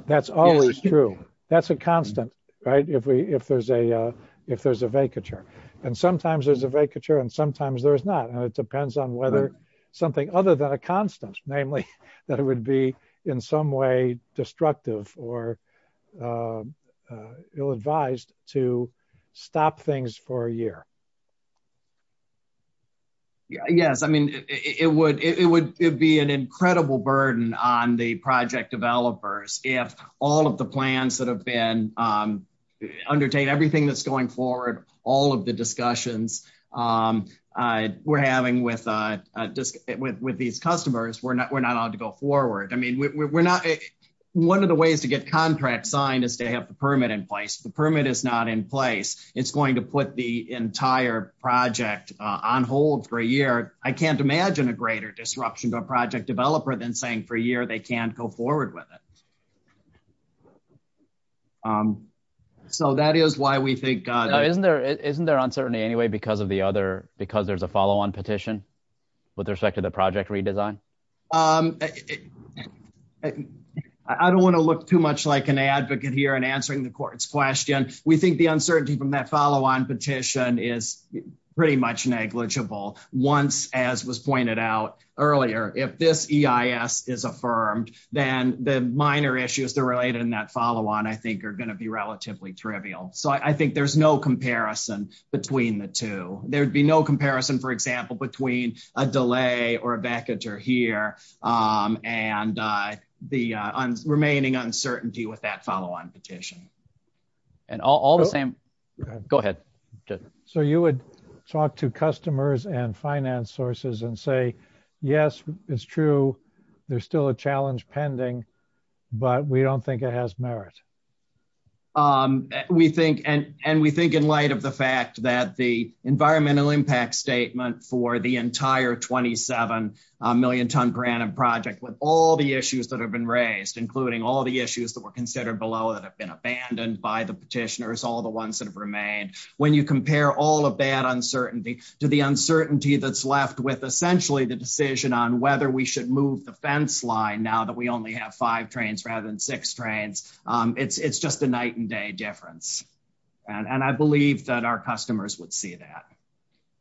That's always true. That's a constant, right? If we, if there's a, uh, if there's a vacature and sometimes there's a vacature and sometimes there's not, and it depends on whether something other than a constant, namely that it would be in some way destructive or, uh, uh, ill-advised to stop things for a year. Yes. I mean, it would, it would, it'd be an incredible burden on the project developers. If all of the plans that have been, um, undertake everything that's going forward, all of the discussions, um, uh, we're having with, uh, uh, just with, with these customers, we're not, we're not allowed to go forward. I mean, we're not, one of the ways to get contracts signed is to have the permit in place. The permit is not in place. It's going to put the entire project on hold for a year. I can't imagine a greater disruption to a project developer than for a year they can't go forward with it. Um, so that is why we think, uh, isn't there, isn't there uncertainty anyway, because of the other, because there's a follow-on petition with respect to the project redesign? Um, I don't want to look too much like an advocate here and answering the court's question. We think the uncertainty from that follow-on petition is pretty much negligible. Once, as was pointed out earlier, if this EIS is affirmed, then the minor issues that are related in that follow-on, I think are going to be relatively trivial. So I think there's no comparison between the two. There'd be no comparison, for example, between a delay or a vacatur here, um, and, uh, the, uh, remaining uncertainty with that follow-on petition. And all the same, go ahead. So you would talk to customers and finance sources and say, yes, it's true, there's still a challenge pending, but we don't think it has merit. Um, we think, and, and we think in light of the fact that the environmental impact statement for the entire 27 million ton granite project, with all the issues that have been raised, including all the issues that were considered below that have been abandoned by the petitioners, all the ones that have remained, when you compare all of that uncertainty to the uncertainty that's left with essentially the decision on whether we should move the fence line now that we only have five trains rather than six trains, um, it's, it's just a night and day difference. And I believe that our customers would see that.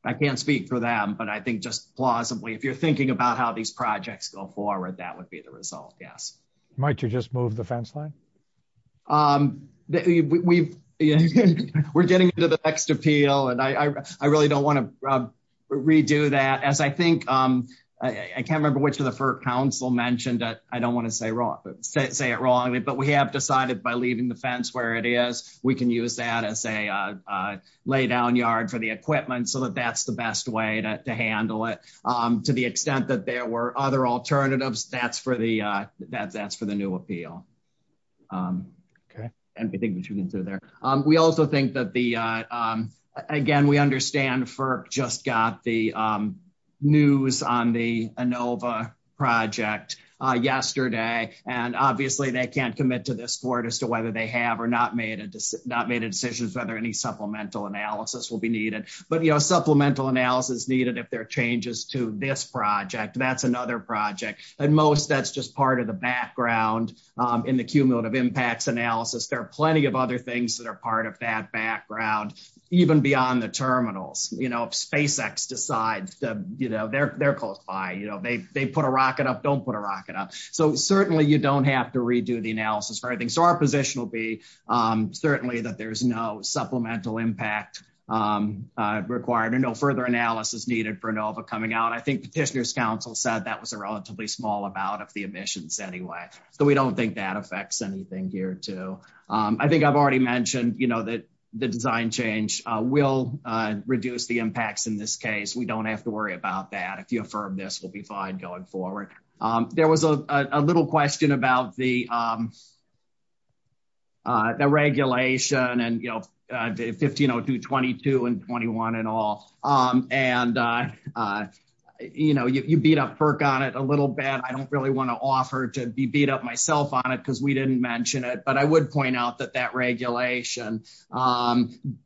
I can't speak for them, but I think just plausibly, if you're thinking about how these projects go forward, that would be the result. Yes. Might you just move the fence line? Um, we've, we're getting into the next appeal and I, I really don't want to redo that as I think, um, I can't remember which of the FERC council mentioned that I don't want to say wrong, say it wrongly, but we have decided by leaving the fence where it is, we can use that as a, uh, uh, lay down yard for the equipment so that that's the best way to handle it. Um, to the extent that there were other alternatives, that's for the, uh, that that's the new appeal. Um, okay. And we think what you can do there. Um, we also think that the, uh, um, again, we understand FERC just got the, um, news on the ANOVA project, uh, yesterday, and obviously they can't commit to this board as to whether they have or not made a decision, not made a decision as to whether any supplemental analysis will be needed, but, you know, supplemental analysis needed if there are changes to this project, that's another project. And most that's just part of the background, um, in the cumulative impacts analysis. There are plenty of other things that are part of that background, even beyond the terminals, you know, if SpaceX decides that, you know, they're, they're close by, you know, they, they put a rocket up, don't put a rocket up. So certainly you don't have to redo the analysis for everything. So our position will be, um, certainly that there's no supplemental impact, um, uh, required and no further analysis needed for ANOVA coming out. I think petitioner's council said that was a relatively small amount of the emissions anyway. So we don't think that affects anything here too. Um, I think I've already mentioned, you know, that the design change, uh, will, uh, reduce the impacts in this case. We don't have to worry about that. If you affirm this, we'll be fine going forward. Um, there was a little question about the, um, uh, the regulation and, you know, uh, 1502, 22 and 21 and all, um, and, uh, uh, you know, you, you beat up perk on it a little bad. I don't really want to offer to be beat up myself on it. Cause we didn't mention it, but I would point out that that regulation, um,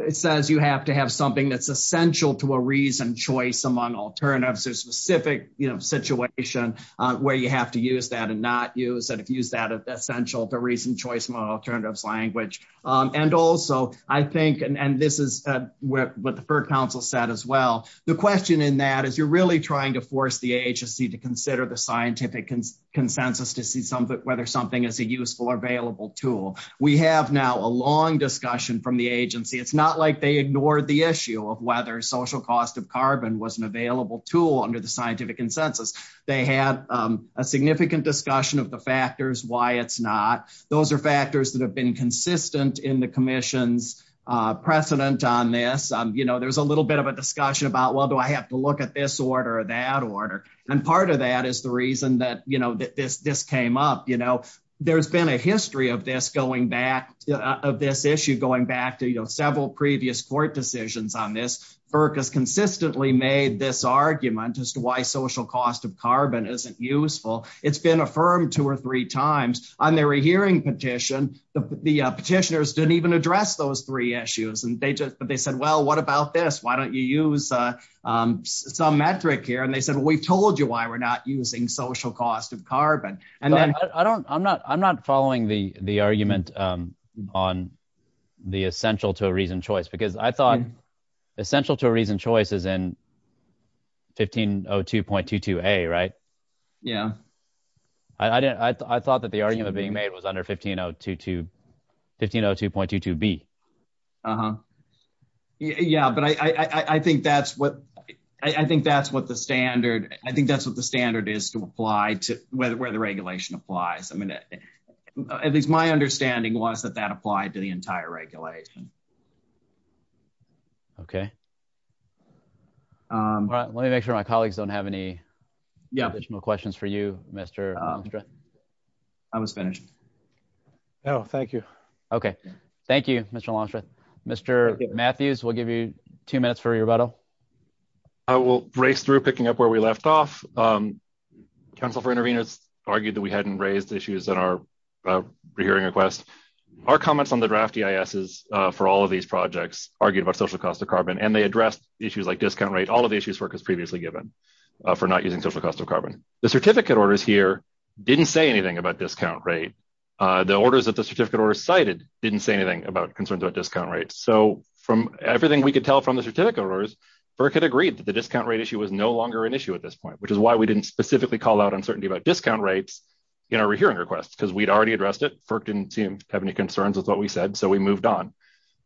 it says you have to have something that's essential to a reason choice among alternatives or specific situation where you have to use that if you use that essential to reason choice model alternatives language. Um, and also I think, and this is what the council said as well. The question in that is you're really trying to force the agency to consider the scientific consensus to see some of it, whether something is a useful or available tool. We have now a long discussion from the agency. It's not like they ignored the issue of whether social cost of carbon was an available tool under the scientific consensus. They had, um, a significant discussion of the factors, why it's not, those are factors that have been consistent in the commission's, uh, precedent on this. Um, you know, there's a little bit of a discussion about, well, do I have to look at this order or that order? And part of that is the reason that, you know, this, this came up, you know, there's been a history of this going back of this issue, going back to, you know, several previous court decisions on this FERC has consistently made this argument as to why social cost of carbon isn't useful. It's been affirmed two or three times on their hearing petition. The petitioners didn't even address those three issues and they just, but they said, well, what about this? Why don't you use, uh, um, some metric here? And they said, well, we've told you why we're not using social cost of carbon. And then I don't, I'm not, I'm not following the, the argument, um, on the essential to a reason choice, because I thought essential to a reason choice is in 1502.22a, right? Yeah. I didn't, I thought that the argument being made was under 1502.22b. Uh-huh. Yeah. But I, I think that's what, I think that's what the standard, I think that's what the standard is to apply to whether, where the regulation applies. I mean, at least my understanding was that that applied to the entire regulation. Okay. Um, let me make sure my colleagues don't have any additional questions for you, Mr. Longstreet. I was finished. Oh, thank you. Okay. Thank you, Mr. Longstreet. Mr. Matthews, we'll give you two minutes for rebuttal. I will race through picking up where we left off. Um, council for interveners argued that we hadn't raised issues that are, uh, that are relevant to the draft EISs, uh, for all of these projects argued about social cost of carbon, and they addressed issues like discount rate, all of the issues FERC has previously given, uh, for not using social cost of carbon. The certificate orders here didn't say anything about discount rate. Uh, the orders that the certificate orders cited didn't say anything about concerns about discount rates. So from everything we could tell from the certificate orders, FERC had agreed that the discount rate issue was no longer an issue at this point, which is why we didn't specifically call out uncertainty about discount rates in our FERC didn't seem to have any concerns with what we said. So we moved on.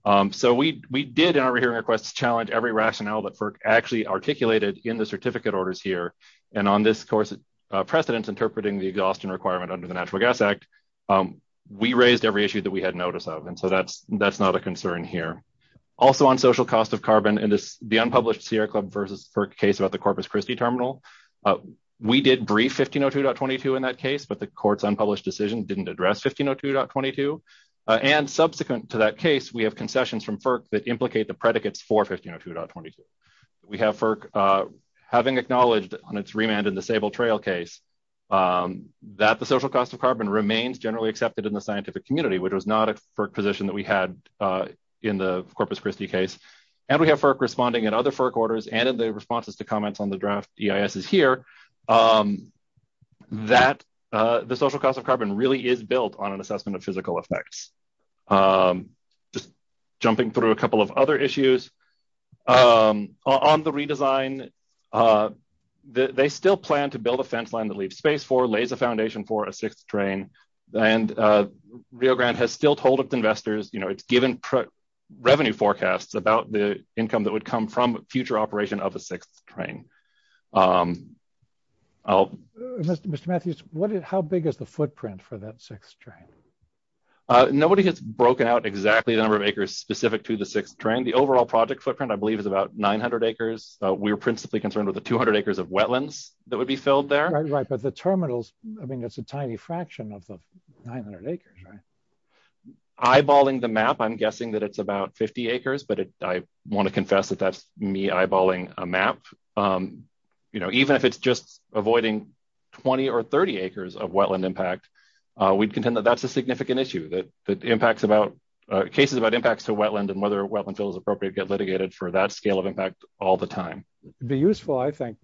Um, so we, we did in our hearing requests, challenge every rationale that FERC actually articulated in the certificate orders here. And on this course, uh, precedents interpreting the exhaustion requirement under the natural gas act. Um, we raised every issue that we had notice of. And so that's, that's not a concern here also on social cost of carbon and the unpublished Sierra club versus FERC case about the Corpus Christi terminal. Uh, we did brief 1502.22 in that case, but the court's unpublished decision didn't address 1502.22. Uh, and subsequent to that case, we have concessions from FERC that implicate the predicates for 1502.22. We have FERC, uh, having acknowledged on its remand and disabled trail case, um, that the social cost of carbon remains generally accepted in the scientific community, which was not a FERC position that we had, uh, in the Corpus Christi case. And we have FERC responding at other FERC orders and in the the social cost of carbon really is built on an assessment of physical effects. Um, just jumping through a couple of other issues, um, on the redesign, uh, they still plan to build a fence line to leave space for lays a foundation for a sixth train and, uh, Rio Grande has still told us investors, you know, it's given revenue forecasts about the income that would come from future operation of a sixth train. Um, I'll... Mr. Matthews, what is, how big is the footprint for that sixth train? Uh, nobody has broken out exactly the number of acres specific to the sixth train. The overall project footprint, I believe, is about 900 acres. Uh, we were principally concerned with the 200 acres of wetlands that would be filled there. Right, right. But the terminals, I mean, it's a tiny fraction of the 900 acres, right? Eyeballing the map, I'm guessing that it's about 50 acres, but it, I want to confess that that's me eyeballing a map. Um, you know, even if it's just avoiding 20 or 30 acres of wetland impact, uh, we'd contend that that's a significant issue that, that impacts about, uh, cases about impacts to wetland and whether wetland fill is appropriate to get litigated for that scale of impact all the time. It'd be useful, I think,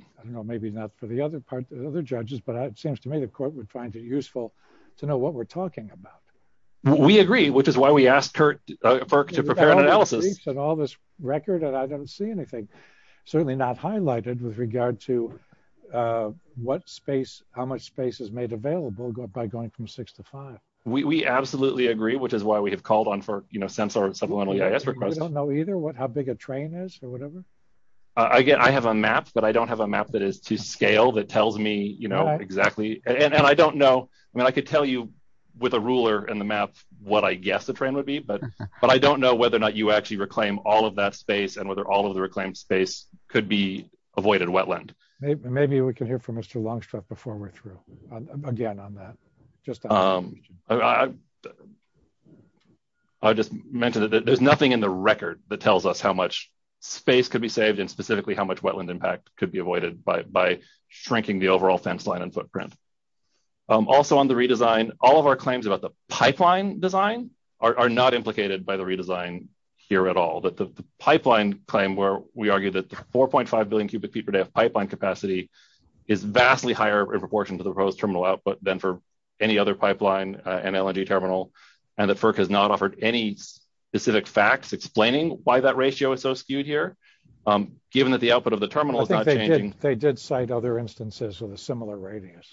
I don't know, maybe not for the other part, the other judges, but it seems to me the court would find it useful to know what we're talking about. We agree, which is why we asked Kurt to prepare an analysis and all this record, and I don't see anything certainly not highlighted with regard to, uh, what space, how much space is made available by going from six to five. We, we absolutely agree, which is why we have called on for, you know, sensor supplemental EIS requests. I don't know either what, how big a train is or whatever. I get, I have a map, but I don't have a map that is to scale that tells me, you know, exactly. And I don't know, I mean, I could tell you with a ruler and the map, what I guess the train would be, but, but I don't know whether or not you actually reclaim all of that space and whether all of the reclaimed space could be avoided wetland. Maybe we can hear from Mr. Longstreth before we're through again on that. Um, I just mentioned that there's nothing in the record that tells us how much space could be saved and specifically how much wetland impact could be avoided by, shrinking the overall fence line and footprint. Um, also on the redesign, all of our claims about the pipeline design are not implicated by the redesign here at all, that the pipeline claim, where we argue that 4.5 billion cubic feet per day of pipeline capacity is vastly higher in proportion to the proposed terminal output than for any other pipeline, uh, NLNG terminal. And that FERC has not offered any specific facts explaining why that ratio is so skewed here. Um, given that the output of the terminal, they did cite other instances with a similar radius.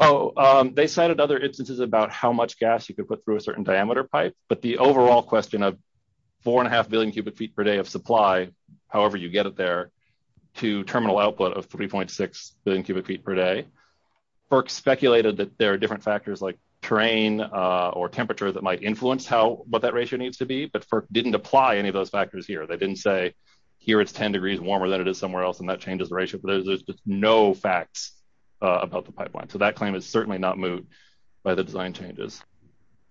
Oh, um, they cited other instances about how much gas you could put through a certain diameter pipe, but the overall question of four and a half billion cubic feet per day of supply, however, you get it there to terminal output of 3.6 billion cubic feet per day, FERC speculated that there are different factors like terrain, uh, or temperature that might influence how, what that ratio needs to be, but FERC didn't apply any of those factors here. They didn't say here it's 10 degrees warmer than it is somewhere else. And that changes the ratio, but there's just no facts, uh, about the pipeline. So that claim is certainly not moved by the design changes,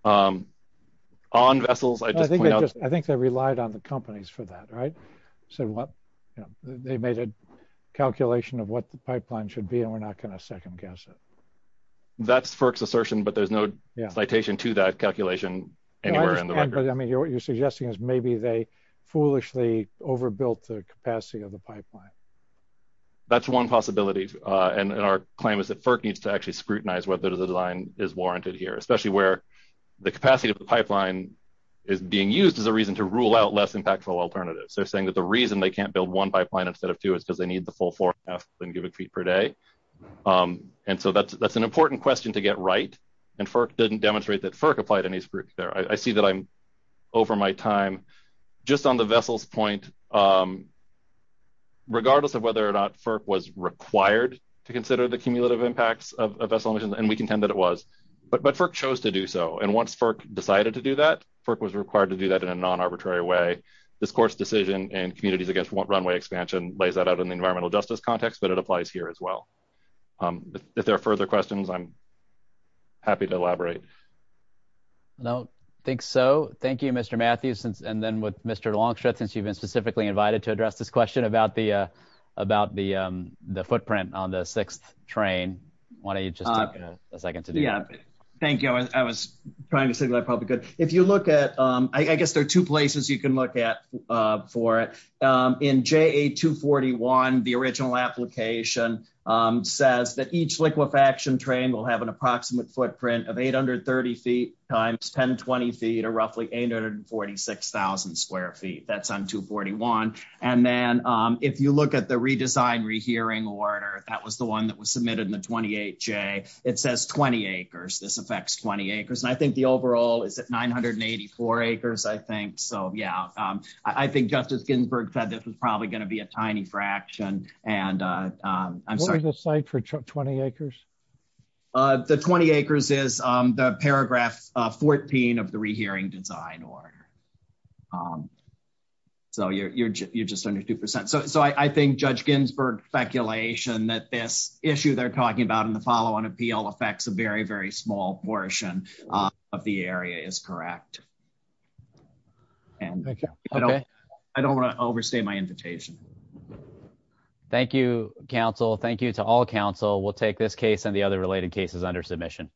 um, on vessels. I think they just, I think they relied on the companies for that, right? So what they made a calculation of what the pipeline should be, and we're not going to second guess it. That's FERC's assertion, but there's no citation to that calculation. I mean, what you're suggesting is maybe they foolishly overbuilt the capacity of the pipeline. That's one possibility. Uh, and our claim is that FERC needs to actually scrutinize whether the design is warranted here, especially where the capacity of the pipeline is being used as a reason to rule out less impactful alternatives. They're saying that the reason they can't build one pipeline instead of two is because they need the full four and a half billion cubic feet per day. Um, and so that's, that's an important question to get right. And FERC didn't demonstrate that FERC applied any scrutiny there. I see that I'm over my time just on the vessels point. Um, regardless of whether or not FERC was required to consider the cumulative impacts of vessel emissions, and we contend that it was, but, but FERC chose to do so. And once FERC decided to do that, FERC was required to do that in a non-arbitrary way. This court's decision and communities against runway expansion lays that out in the environmental justice context, but it applies here as well. Um, if there are further questions, I'm happy to elaborate. I don't think so. Thank you, Mr. Matthews. And then with Mr. Longstreet, since you've been specifically invited to address this question about the, uh, about the, um, the footprint on the sixth train, why don't you just take a second to do that? Thank you. I was trying to say that I probably could. If you look at, um, I guess there are two places you can look at, uh, for it. Um, in JA241, the original application, um, says that each liquefaction train will have an approximate footprint of 830 feet times 1020 feet, or roughly 846,000 square feet. That's on 241. And then, um, if you look at the redesign rehearing order, that was the one that was submitted in the 28J, it says 20 acres. This I think so. Yeah. Um, I think justice Ginsburg said this was probably going to be a tiny fraction and, uh, um, I'm sorry, the site for 20 acres, uh, the 20 acres is, um, the paragraph, uh, 14 of the rehearing design order. Um, so you're, you're, you're just under 2%. So, so I think judge Ginsburg speculation that this issue they're talking about in the following appeal affects a very, very small portion of the area is correct. And I don't want to overstay my invitation. Thank you, counsel. Thank you to all counsel. We'll take this case and the other related cases under submission.